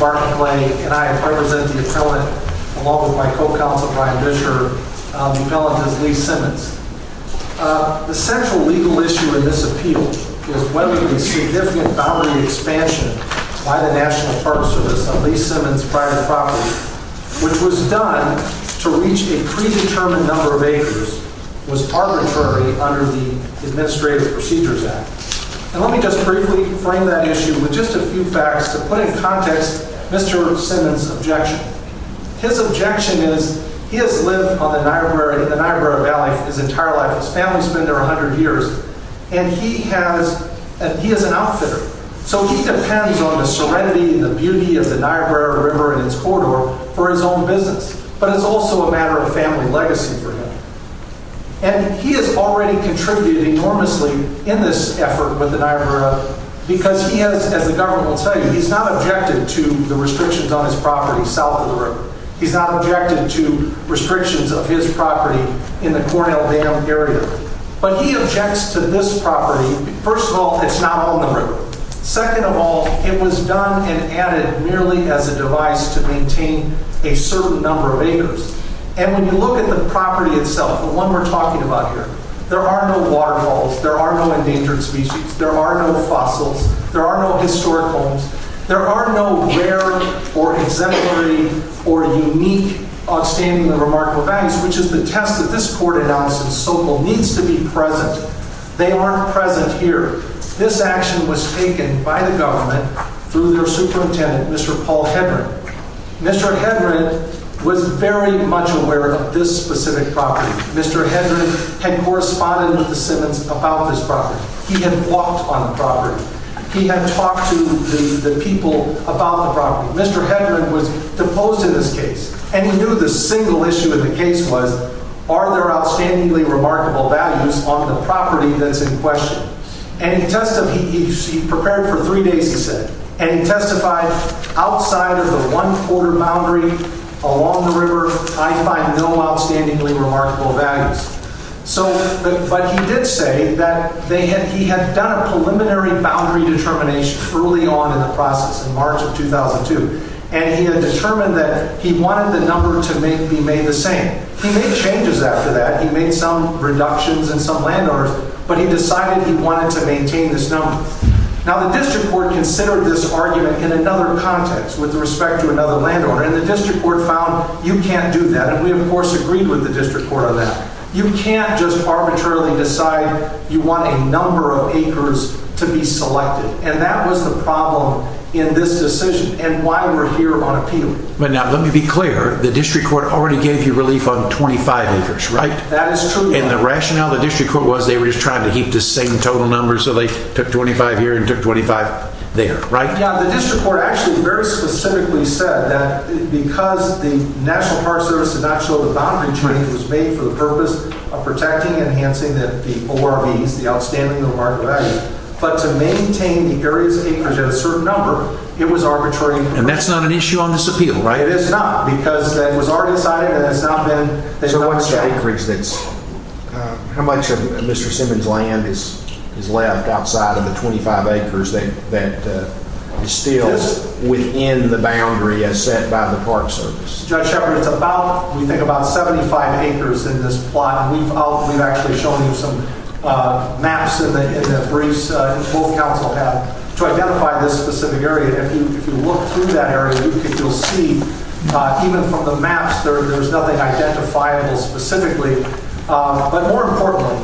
Barclay, and I represent the appellant, along with my co-counsel Brian Bisher, the appellant is Lee Simmons. The central legal issue in this appeal is whether the significant boundary expansion by the National Park Service on Lee Simmons' private property, which was done to reach a predetermined number of acres, was arbitrary under the Administrative Procedures Act. And let me just briefly frame that issue with just a few facts to put in context Mr. Simmons' objection. His objection is, he has lived in the Niobrara Valley his entire life, his family's been there 100 years, and he has, he is an outfitter. So he depends on the serenity and the beauty of the Niobrara River and its corridor for his own business, but it's also a matter of family legacy for him. And he has already contributed enormously in this effort with the Niobrara, because he has, as the government will tell you, he's not objected to the restrictions on his property south of the river. He's not objected to restrictions of his property in the Cornell Dam area. But he objects to this property, first of all, it's not on the river. Second of all, it was done and added merely as a device to maintain a certain number of acres. And when you look at the property itself, the one we're talking about here, there are no waterfalls, there are no endangered species, there are no fossils, there are no historic homes, there are no rare or exemplary or unique outstanding or remarkable values, which is the test that this court announced in Sokol needs to be present. They aren't present here. This action was taken by the government through their superintendent, Mr. Paul Hedren. Mr. Hedren was very much aware of this specific property. Mr. Hedren had corresponded with the Simmons about this property. He had walked on the property. He had talked to the people about the property. Mr. Hedren was deposed in this case, and he knew the single issue of the case was, are there outstandingly remarkable values on the property that's in question? And he prepared for three days, he said, and he testified, outside of the one-quarter boundary along the river, I find no outstandingly remarkable values. But he did say that he had done a preliminary boundary determination early on in the process, in March of 2002, and he had determined that he wanted the number to be made the same. He made changes after that. He made some reductions in some landowners, but he decided he wanted to maintain this number. Now, the district court considered this argument in another context with respect to another landowner, and the district court found you can't do that, and we, of course, agreed with the district court on that. You can't just arbitrarily decide you want a number of acres to be selected, and that was the problem in this decision, and why we're here on appeal. But now, let me be clear, the district court already gave you relief on 25 acres, right? That is true. And the rationale of the district court was they were just trying to keep the same total numbers, so they took 25 here and took 25 there, right? Yeah, the district court actually very specifically said that because the National Park Service did not show the boundary change was made for the purpose of protecting and enhancing the ORVs, the Outstanding Memorial Value, but to maintain the various acres at a certain number, it was arbitrary. And that's not an issue on this appeal, right? It is not, because it was already decided, and it's not been... So what's the acreage that's... How much of Mr. Simmons' land is left outside of the 25 acres that is still within the boundary as set by the Park Service? Judge Shepard, it's about, we think, about 75 acres in this plot, and we've actually shown you some maps in the briefs that both counsel have to identify this specific area. And if you look through that area, you'll see, even from the maps, there's nothing identifiable specifically. But more importantly,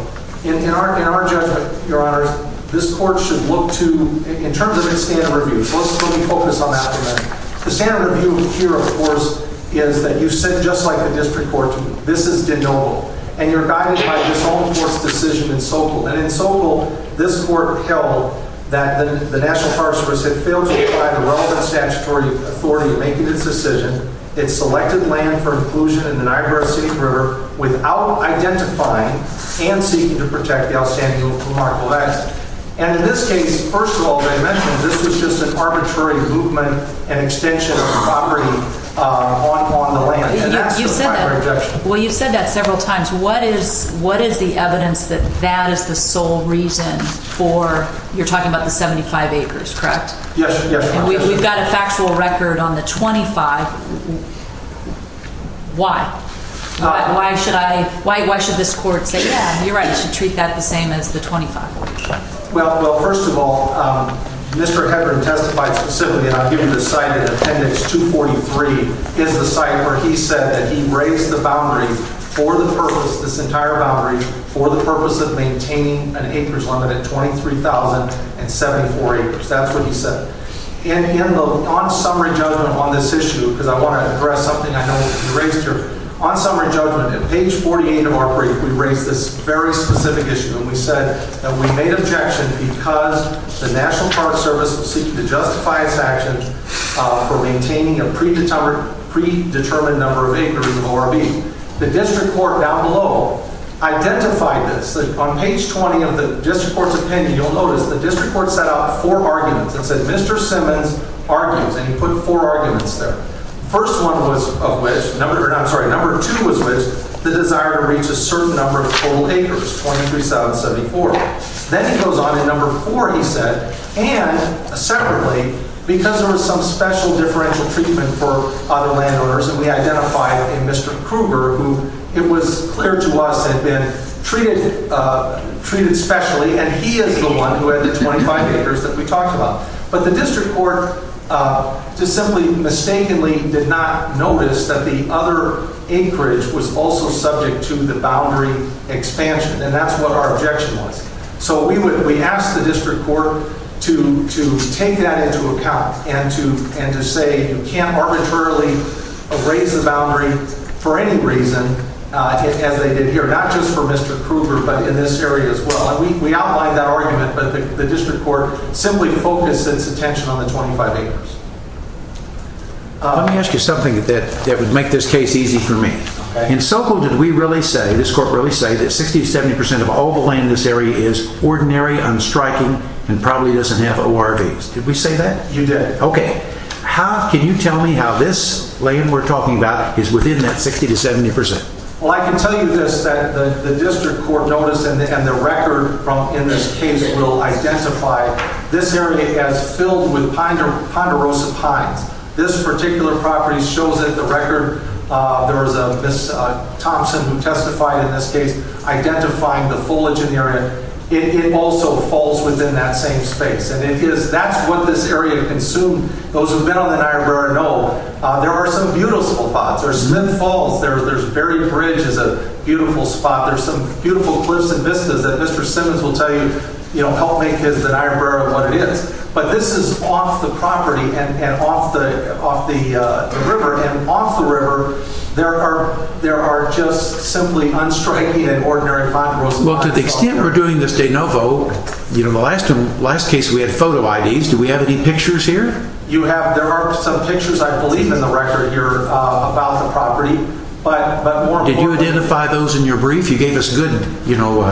in our judgment, Your Honor, this court should look to, in terms of its standard review, so let's focus on that for a minute. The standard review here, of course, is that you sit just like the district court. This is denotable. And you're guided by this whole court's decision in Sokol. And in Sokol, this court held that the National Park Service had failed to apply the relevant statutory authority in making its decision. It selected land for inclusion in the Niobrara City River without identifying and seeking to protect the outstanding move from Mark Lex. And in this case, first of all, as I mentioned, this was just an arbitrary movement and extension of property on the land. And that's the primary objection. Well, you've said that several times. What is the evidence that that is the sole reason for, you're talking about the 75 acres, correct? Yes, Your Honor. And we've got a factual record on the 25. Why? Why should I, why should this court say, yeah, you're right, you should treat that the same as the 25. Well, first of all, Mr. Hebron testified specifically, and I'll give you the site in that he raised the boundary for the purpose, this entire boundary for the purpose of maintaining an acreage limit at 23,074 acres. That's what he said. And on summary judgment on this issue, because I want to address something I know you raised here. On summary judgment at page 48 of our brief, we raised this very specific issue. And we said that we made objection because the National Park Service seeking to justify its action for maintaining a predetermined number of acres of ORB. The district court down below identified this. On page 20 of the district court's opinion, you'll notice the district court set out four arguments. It said Mr. Simmons argues, and he put four arguments there. First one was of which, number, I'm sorry, number two was which the desire to reach a certain number of total acres, 23,074. Then he goes on and number four, he said, and separately, because there was some special differential treatment for other landowners, and we identified a Mr. Krueger, who it was clear to us had been treated, treated specially, and he is the one who had the 25 acres that we talked about. But the district court just simply mistakenly did not notice that the other acreage was also subject to the boundary expansion. And that's what our objection was. So we asked the district court to take that into account and to say you can't arbitrarily raise the boundary for any reason as they did here, not just for Mr. Krueger, but in this area as well. And we outlined that argument, but the district court simply focused its attention on the 25 acres. Let me ask you something that would make this case easy for me. In SoCo, did we really say, this court really say that 60 to 70% of all the land in this area is ordinary, unstriking, and probably doesn't have ORVs? Did we say that? You did. Okay, how can you tell me how this land we're talking about is within that 60 to 70%? Well, I can tell you this, that the district court noticed and the record in this case will identify this area as filled with ponderosa pines. This particular property shows that the record, there was a Ms. Thompson who testified in this case, identifying the foliage in the area, it also falls within that same space. And it is, that's what this area consumed. Those who've been on the Niobrara know there are some beautiful spots. There's Smith Falls, there's Berry Bridge is a beautiful spot. There's some beautiful cliffs and vistas that Mr. Simmons will tell you, you know, help make his Niobrara what it is. But this is off the property and off the river. And off the river, there are just simply unstriking and ordinary ponderosa pines. Well, to the extent we're doing this de novo, you know, the last case we had photo IDs. Do we have any pictures here? You have, there are some pictures, I believe, in the record here about the property. Did you identify those in your brief? You gave us good, you know,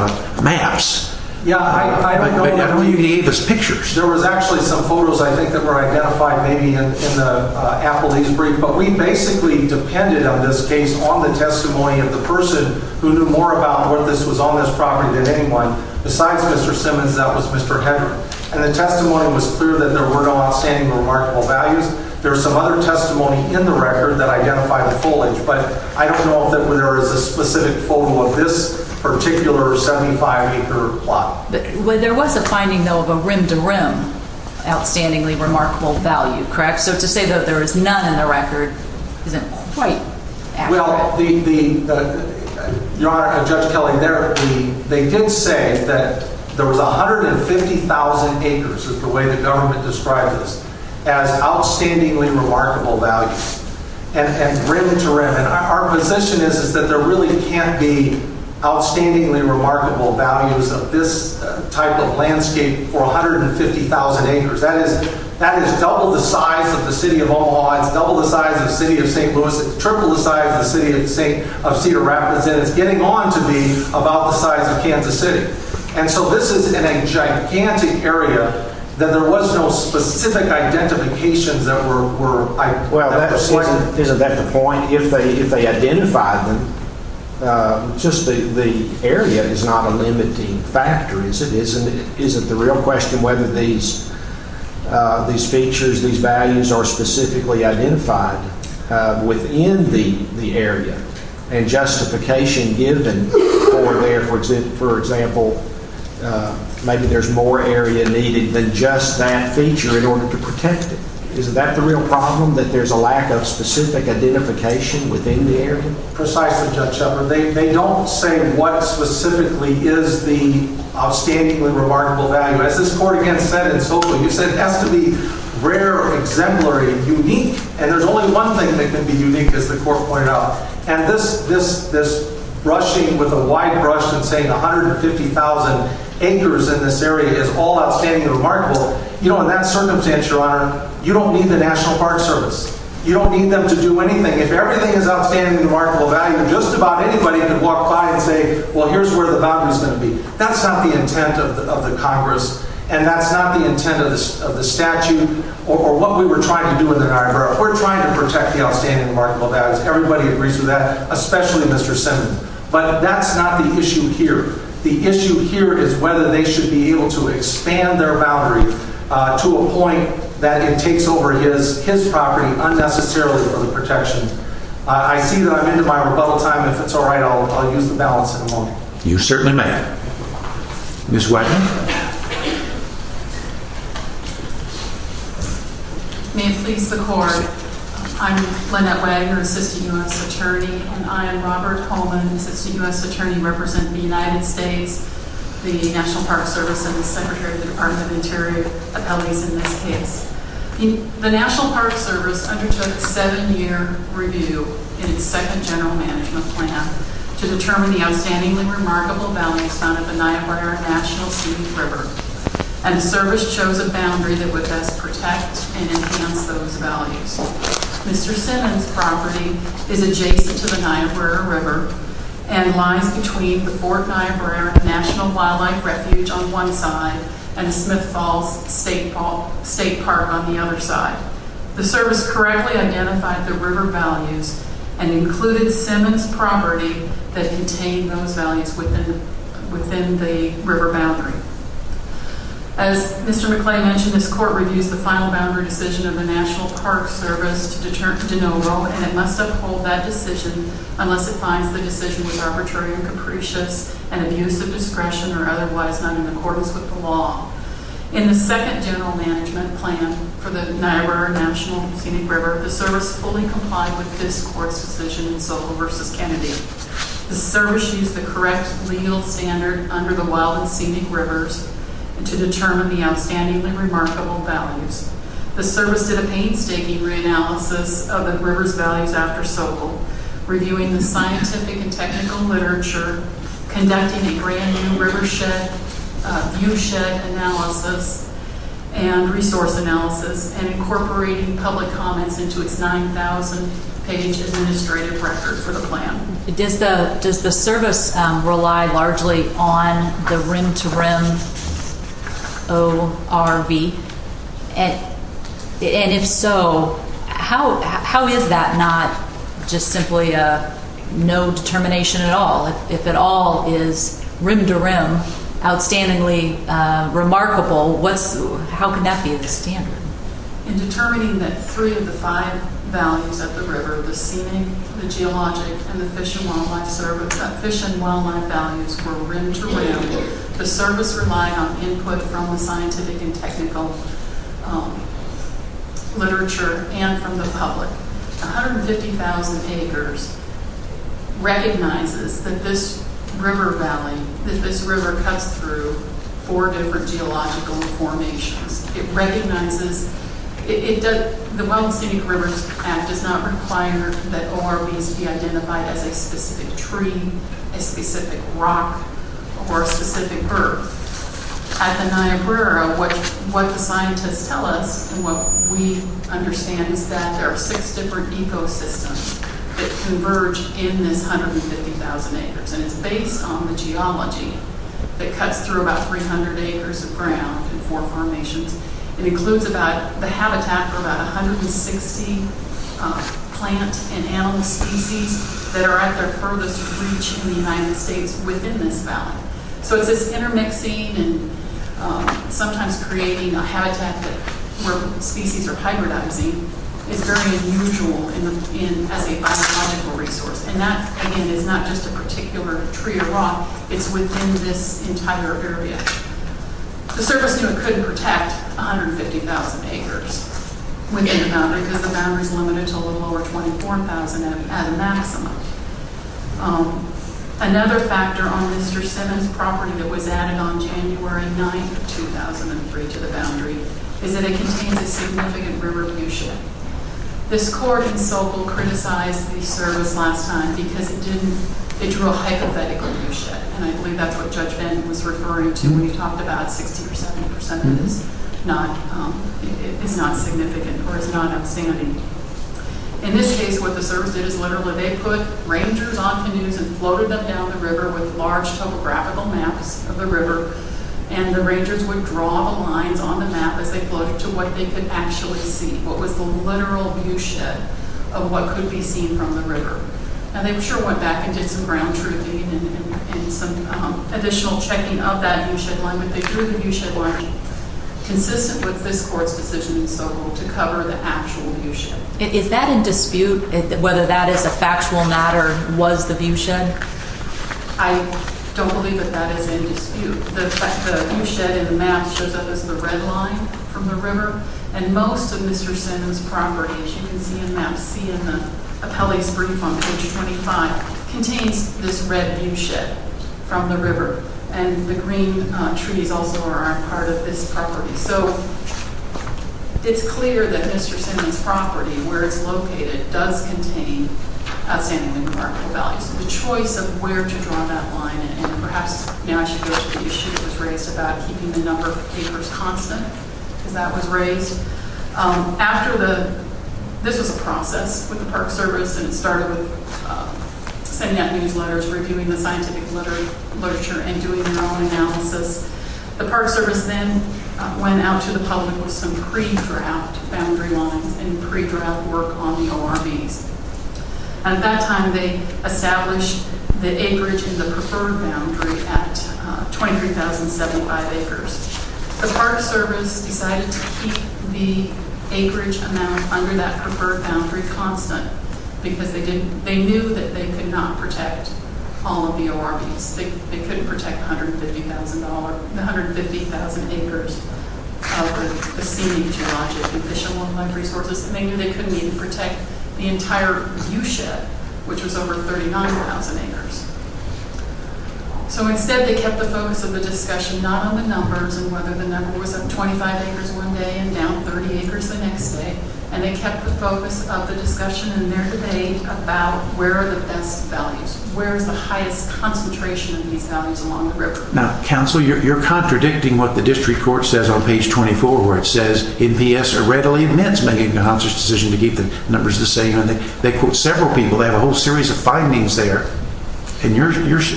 maps. Yeah, I don't know. I don't know you gave us pictures. There was actually some photos, I think, that were identified maybe in the Applebee's brief. But we basically depended on this case on the testimony of the person who knew more about what this was on this property than anyone besides Mr. Simmons. That was Mr. Hendrick. And the testimony was clear that there were no outstanding or remarkable values. There's some other testimony in the record that identified the foliage. But I don't know if there is a specific photo of this particular 75-acre plot. There was a finding, though, of a rim-to-rim outstandingly remarkable value, correct? So to say that there is none in the record isn't quite accurate. Well, Your Honor, Judge Kelly, they did say that there was 150,000 acres, is the way the government describes this, as outstandingly remarkable values, and rim-to-rim. And our position is, is that there really can't be outstandingly remarkable values of this type of landscape for 150,000 acres. That is double the size of the city of Omaha. It's double the size of the city of St. Louis. It's triple the size of the city of Cedar Rapids. And it's getting on to be about the size of Kansas City. And so this is in a gigantic area that there was no specific identifications that were... Well, isn't that the point? If they identified them, just the area is not a limiting factor, is it? Isn't the real question whether these features, these values, are specifically identified within the area? And justification given for there, for example, maybe there's more area needed than just that feature in order to protect it. Isn't that the real problem, that there's a lack of specific identification within the area? Precisely, Judge Shepard. They don't say what specifically is the outstandingly remarkable value. As this Court, again, said in Soto, you said it has to be rare, exemplary, unique. And there's only one thing that can be unique, as the Court pointed out. And this brushing with a wide brush and saying 150,000 acres in this area you don't need the National Park Service. You don't need them to do anything. If everything is outstandingly remarkable value, just about anybody can walk by and say, well, here's where the boundary is going to be. That's not the intent of the Congress. And that's not the intent of the statute or what we were trying to do in the Niagara. We're trying to protect the outstandingly remarkable values. Everybody agrees with that, especially Mr. Simmons. But that's not the issue here. The issue here is whether they should be able to expand their boundary to a point that it takes over his property unnecessarily for the protection. I see that I'm into my rebuttal time. If it's all right, I'll use the balance in a moment. You certainly may. Ms. Wagner? May it please the Court. I'm Lynette Wagner, Assistant U.S. Attorney. And I am Robert Coleman, Assistant U.S. Attorney, representing the United States, the National Park Service, and the Secretary of the Department of Interior appellees in this case. The National Park Service undertook a seven-year review in its second general management plan to determine the outstandingly remarkable values found at the Niagara National Student River. And the service chose a boundary that would best protect and enhance those values. Mr. Simmons' property is adjacent to the Niagara River and lies between the Fort Niagara National Wildlife Refuge on one side and Smith Falls State Park on the other side. The service correctly identified the river values and included Simmons' property that contained those values within the river boundary. As Mr. McClain mentioned, this Court reviews the final boundary decision of the National Park Service to de novo, and it must uphold that decision unless it finds the decision was arbitrary and capricious and abuse of discretion or otherwise not in accordance with the law. In the second general management plan for the Niagara National Scenic River, the service fully complied with this Court's decision in Sobel v. Kennedy. The service used the correct legal standard under the wild and scenic rivers to determine the outstandingly remarkable values. The service did a painstaking reanalysis of the river's values after Sobel, reviewing the scientific and technical literature, conducting a brand new viewshed analysis and resource analysis, and incorporating public comments into its 9,000-page administrative record for the plan. Does the service rely largely on the rim-to-rim ORV? And if so, how is that not just simply no determination at all? If it all is rim-to-rim, outstandingly remarkable, how can that be the standard? In determining that three of the five values of the river, the scenic, the geologic, and the fish and wildlife values were rim-to-rim, the service relied on input from the scientific and technical literature and from the public. 150,000 acres recognizes that this river valley, that this river cuts through four different geological formations. It recognizes, the Wild and Scenic Rivers Act does not require that ORVs be identified as a specific tree, a specific rock, or a specific bird. At the Niagara, what the scientists tell us, and what we understand, is that there are six different ecosystems that converge in this 150,000 acres. And it's based on the geology that cuts through about 300 acres of ground and four formations. It includes the habitat for about 160 plant and animal species that are at their furthest reach in the United States within this valley. So it's this intermixing and sometimes creating a habitat where species are hybridizing is very unusual as a biological resource. And that, again, is not just a particular tree or rock. It's within this entire area. The service knew it couldn't protect 150,000 acres within the boundary because the boundary's limited to a little over 24,000 at a maximum. Another factor on Mr. Simmons' property that was added on January 9th of 2003 to the boundary is that it contains a significant river lewishit. This court in Sokol criticized the service last time because it didn't, it drew a hypothetical lewishit. And I believe that's what Judge Ben was referring to when he talked about 60% or 70% that is not significant or is not outstanding. In this case, what the service did is literally they put rangers on canoes and floated them down the river with large topographical maps of the river. And the rangers would draw the lines on the map as they floated to what they could actually see, what was the literal lewishit of what could be seen from the river. And they sure went back and did some ground truthing and some additional checking of that lewishit line. But they drew the lewishit line consistent with this court's decision in Sokol to cover the actual lewishit. Is that in dispute, whether that is a factual matter, was the lewishit? I don't believe that that is in dispute. The lewishit in the map shows up as the red line from the river. And most of Mr. Simmons' property, as you can see in map C in the appellee's brief on page 25, contains this red lewishit from the river. And the green trees also are part of this property. So it's clear that Mr. Simmons' property, where it's located, does contain outstandingly remarkable values. The choice of where to draw that line, and perhaps now I should go to the issue that was raised about keeping the number of papers constant, because that was raised. After the, this was a process with the Park Service, and it started with sending out newsletters, reviewing the scientific literature, and doing their own analysis. The Park Service then went out to the public with some pre-drought boundary lines and pre-drought work on the ORBs. At that time, they established the acreage in the preferred boundary at 23,075 acres. The Park Service decided to keep the acreage amount under that preferred boundary constant, because they knew that they could not protect all of the ORBs. They couldn't protect the $150,000, the 150,000 acres of the scenic geologic and fish and wildlife resources, and they knew they couldn't even protect the entire viewshed, which was over 39,000 acres. So instead, they kept the focus of the discussion not on the numbers and whether the number was up 25 acres one day and down 30 acres the next day, and they kept the focus of the discussion and their debate about where are the best values, where is the highest concentration of these values along the river. Now, counsel, you're contradicting what the district court says on page 24, where it says NPS are readily admits making a conscious decision to keep the numbers the same, and they quote several people, they have a whole series of findings there, and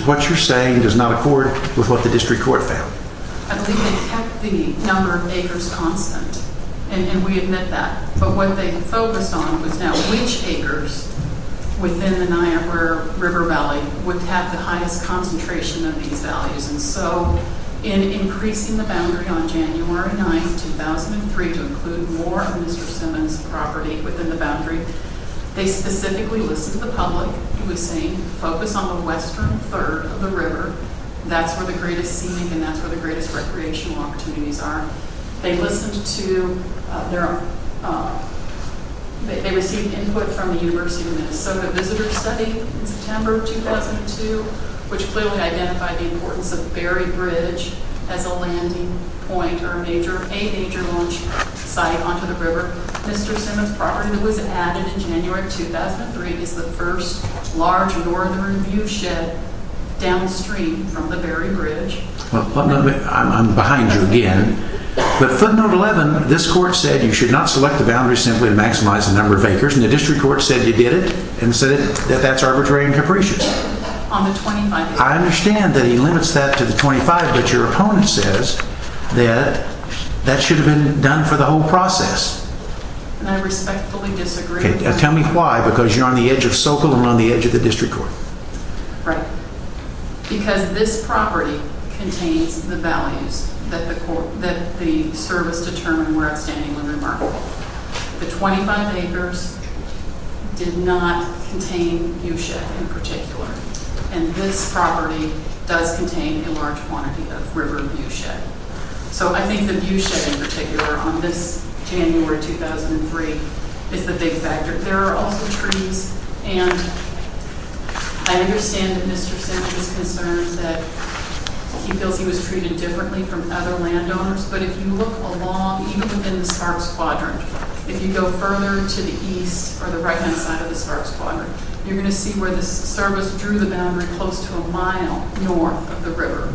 what you're saying does not accord with what the district court found. I believe they kept the number of acres constant, and we admit that, but what they focused on was now which acres within the Niagara River Valley would have the highest concentration of these values. And so in increasing the boundary on January 9, 2003, to include more of Mr. Simmons' property within the boundary, they specifically listened to the public who was saying, focus on the western third of the river, that's where the greatest scenic and that's where the greatest recreational opportunities are. They listened to, they received input from the University of Minnesota visitor study in September of 2002, which clearly identified the importance of Berry Bridge as a landing point or a major launch site onto the river. Mr. Simmons' property was added in January 2003 as the first large northern view shed downstream from the Berry Bridge. I'm behind you again. But footnote 11, this court said you should not select the boundary simply to maximize the number of acres, and the district court said you did it, and said that that's arbitrary and capricious. I understand that he limits that to the 25, but your opponent says that that should have been done for the whole process. And I respectfully disagree. Tell me why, because you're on the edge of Sokol and on the edge of the district court. Right, because this property contains the values that the court, that the service determined were outstanding and remarkable. The 25 acres did not contain view shed in particular, and this property does contain a large quantity of river view shed. So I think the view shed in particular on this January 2003 is the big factor. There are also trees, and I understand that Mr. Simmons' concern that he feels he was treated differently from other landowners, but if you look along, even within the Sparks Quadrant, if you go further to the east or the right-hand side of the Sparks Quadrant, you're going to see where the service drew the boundary close to a mile north of the river.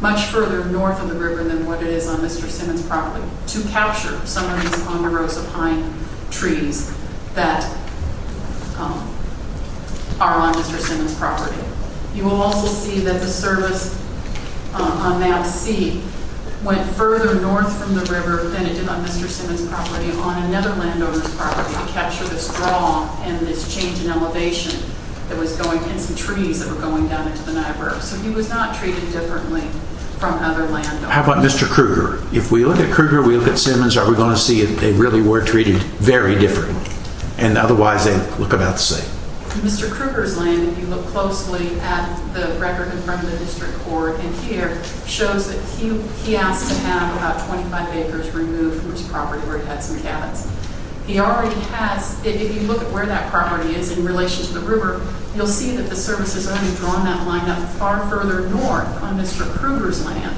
Much further north of the river than what it is on Mr. Simmons' property to capture some of these ponderosa pine trees that are on Mr. Simmons' property. You will also see that the service on Map C went further north from the river than it did on Mr. Simmons' property on another landowner's property to capture this draw and this change in elevation that was going, and some trees that were going down into the Niagara. So he was not treated differently from other landowners. How about Mr. Kruger? If we look at Kruger, we look at Simmons, are we going to see that they really were treated very differently? And otherwise, they look about the same. Mr. Kruger's land, if you look closely at the record from the district court in here, shows that he asked to have about 25 acres removed from his property where he had some cabins. If you look at where that property is in relation to the river, you'll see that the service has only drawn that line up far further north on Mr. Kruger's land,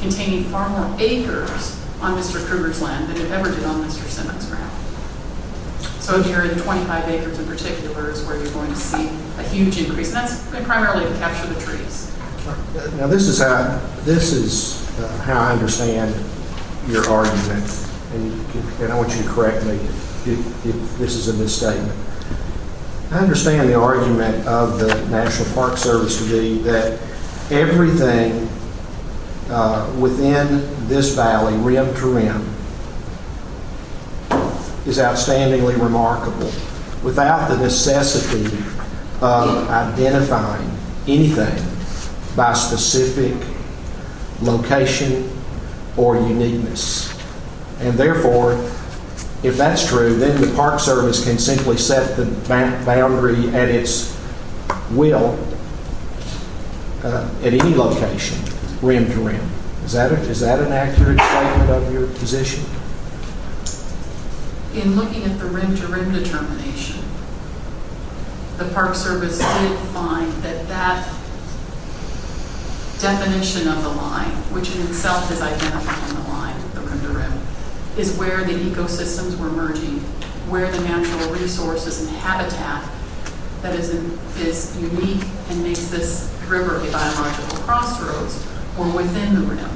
containing far more acres on Mr. Kruger's land than it ever did on Mr. Simmons' ground. So, Jerry, the 25 acres in particular is where you're going to see a huge increase, and that's primarily to capture the trees. Now, this is how I understand your argument, and I want you to correct me if this is a misstatement. I understand the argument of the National Park Service to be that everything within this valley, rim to rim, is outstandingly remarkable without the necessity of identifying anything by specific location or uniqueness. And, therefore, if that's true, then the Park Service can simply set the boundary at its will at any location, rim to rim. Is that an accurate statement of your position? In looking at the rim to rim determination, the Park Service did find that that definition of the line, which in itself is identified on the line, the rim to rim, is where the ecosystems were merging, where the natural resources and habitat that is unique and makes this river a biological crossroads, were within the rim.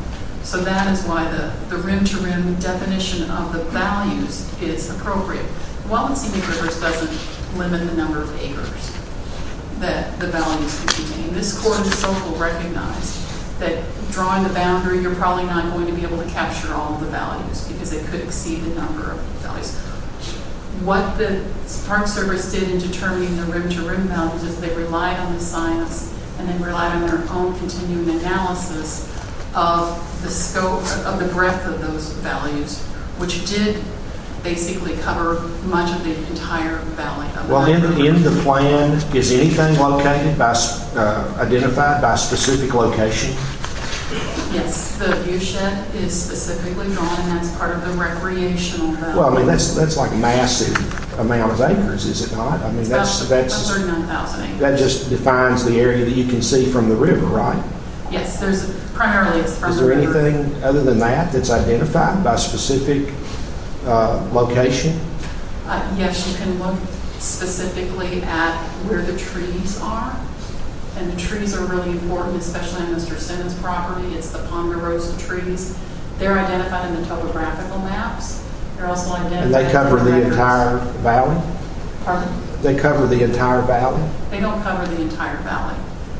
So that is why the rim to rim definition of the values is appropriate. Wellensian rivers doesn't limit the number of acres that the values contain. This court of the local recognized that drawing the boundary, you're probably not going to be able to capture all the values because it could exceed the number of values. What the Park Service did in determining the rim to rim values is they relied on the science and then relied on their own continuing analysis of the scope of the breadth of those values, which did basically cover much of the entire valley. Well, in the plan, is anything identified by specific location? Yes, the viewshed is specifically drawn as part of the recreational value. Well, I mean, that's like massive amounts of acres, is it not? It's about 39,000 acres. That just defines the area that you can see from the river, right? Yes, primarily it's from the river. Is there anything other than that that's identified by specific location? Yes, you can look specifically at where the trees are, and the trees are really important, especially on Mr. Sennett's property. It's the ponderosa trees. They're identified in the topographical maps. They're also identified- And they cover the entire valley? Pardon? They cover the entire valley? They don't cover the entire valley.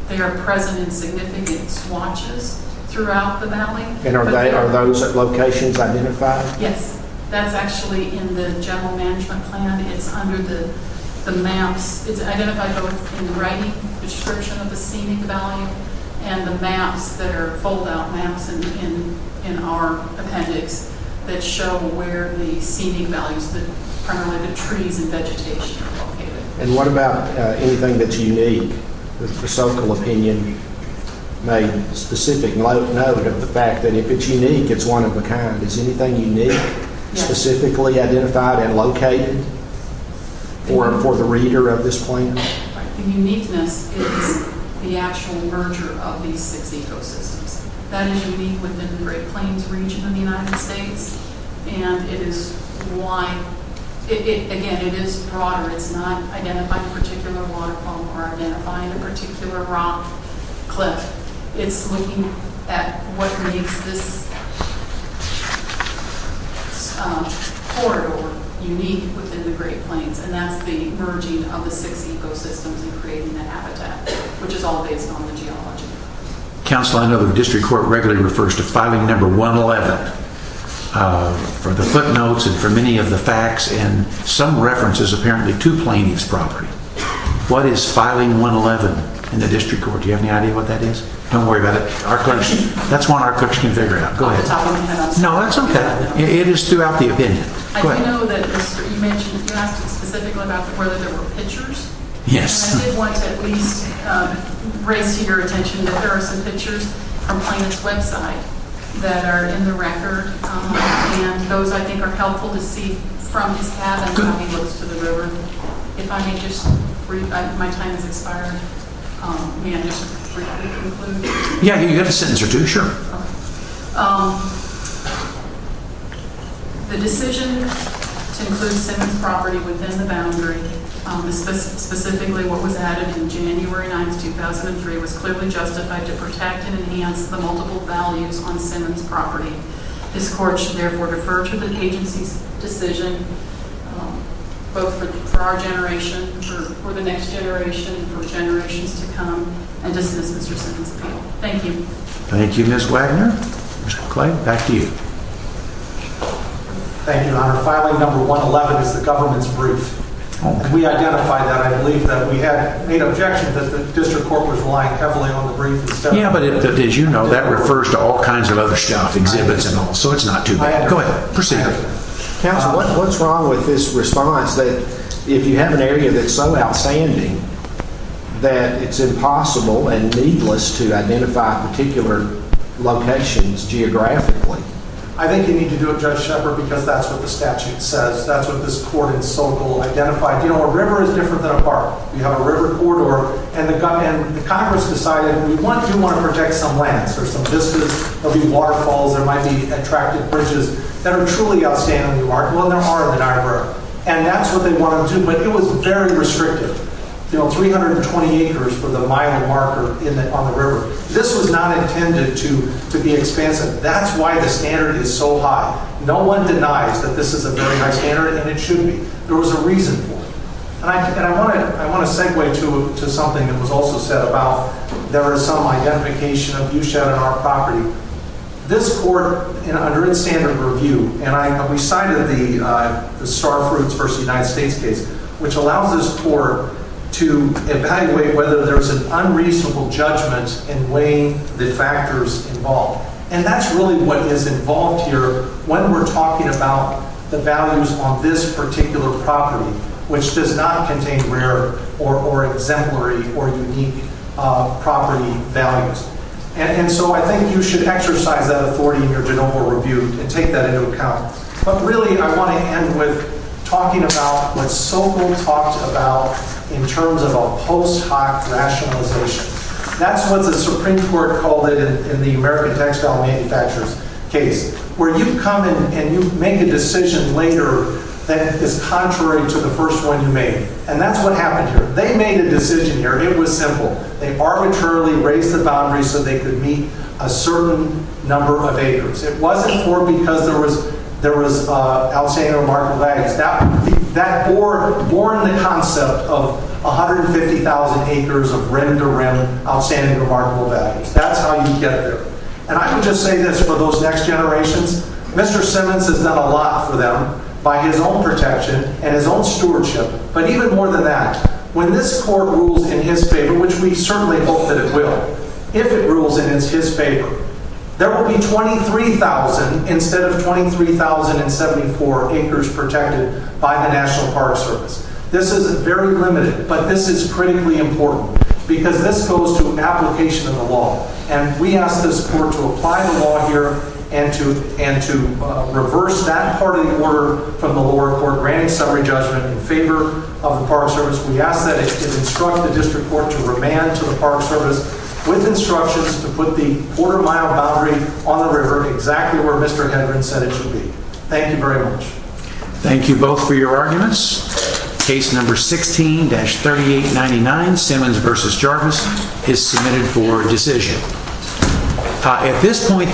They are present in significant swatches throughout the valley. And are those locations identified? Yes, that's actually in the general management plan. It's under the maps. It's identified both in the writing description of the scenic value and the maps that are fold-out maps in our appendix that show where the scenic values, primarily the trees and vegetation are located. And what about anything that's unique? The Fusoco opinion made specific note of the fact that if it's unique, it's one of a kind. Is anything unique, specifically identified and located for the reader of this plan? The uniqueness is the actual merger of these six ecosystems. That is unique within the Great Plains region of the United States, and it is why, again, it is broader. It's not identifying a particular waterfall or identifying a particular rock cliff. It's looking at what makes this corridor unique within the Great Plains, and that's the merging of the six ecosystems and creating the habitat, which is all based on the geology. Counselor, I know the district court regularly refers to filing number 111 for the footnotes and for many of the facts, and some references apparently to plaintiff's property. What is filing 111 in the district court? Do you have any idea what that is? Don't worry about it. Our coach, that's one our coach can figure out. Go ahead. No, that's okay. It is throughout the opinion. I know that you mentioned, you asked specifically about whether there were pictures. Yes. I did want to at least raise your attention that there are some pictures from plaintiff's website that are in the record, and those I think are helpful to see from this path and how he looks to the river. If I may just read, my time has expired. May I just briefly conclude? Yeah, you have a sentence or two, sure. The decision to include Simmons property within the boundary, specifically what was added in January 9th, 2003, was clearly justified to protect and enhance the multiple values on Simmons property. This court should therefore defer to the agency's decision, both for our generation, for the next generation, for generations to come, and dismiss Mr. Simmons' appeal. Thank you. Thank you, Ms. Wagner. Mr. McClain, back to you. Thank you, Your Honor. Filing number 111 is the government's brief. We identified that. I believe that we had made objection that the district court was relying heavily on the brief. Yeah, but as you know, that refers to all kinds of other stuff, exhibits and all. So it's not too bad. Go ahead. Proceed. Counsel, what's wrong with this response that if you have an area that's so outstanding that it's impossible and needless to identify particular locations geographically? I think you need to do it, Judge Shepard, because that's what the statute says. That's what this court in Sokol identified. You know, a river is different than a park. We have a river corridor, and the Congress decided we do want to protect some lands. There's some vistas. There'll be waterfalls. There might be attractive bridges that are truly outstanding and remarkable, and there are in the Niagara River, and that's what they want to do. But it was very restrictive. You know, 320 acres for the mile marker on the river. This was not intended to be expansive. That's why the standard is so high. No one denies that this is a very high standard, and it should be. There was a reason for it. And I want to segue to something that was also said about there is some identification of U-shed on our property. This court, under its standard review, and we cited the Starfruits v. United States case, which allows this court to evaluate whether there was an unreasonable judgment in weighing the factors involved. And that's really what is involved here when we're talking about the values on this particular property, which does not contain rare or exemplary or unique property values. And so I think you should exercise that authority in your de novo review and take that into account. But really, I want to end with talking about what Sobel talked about in terms of a post-hoc rationalization. That's what the Supreme Court called it in the American Textile Manufacturers case, where you come and you make a decision later that is contrary to the first one you made. And that's what happened here. They made a decision here. It was simple. They arbitrarily raised the boundaries so they could meet a certain number of acres. It wasn't for because there was outstanding or remarkable values. That borne the concept of 150,000 acres of rim-to-rim outstanding or remarkable values. That's how you get there. And I can just say this for those next generations. Mr. Simmons has done a lot for them by his own protection and his own stewardship. But even more than that, when this Court rules in his favor, which we certainly hope that it will, if it rules in his favor, there will be 23,000 instead of 23,074 acres protected by the National Park Service. This is very limited, but this is critically important because this goes to application of the law. And we ask this Court to apply the law here and to reverse that part of the order from the Park Service. We ask that it instruct the District Court to remand to the Park Service with instructions to put the quarter-mile boundary on the river exactly where Mr. Hedren said it should be. Thank you very much. Thank you both for your arguments. Case number 16-3899, Simmons v. Jarvis, is submitted for decision. At this point...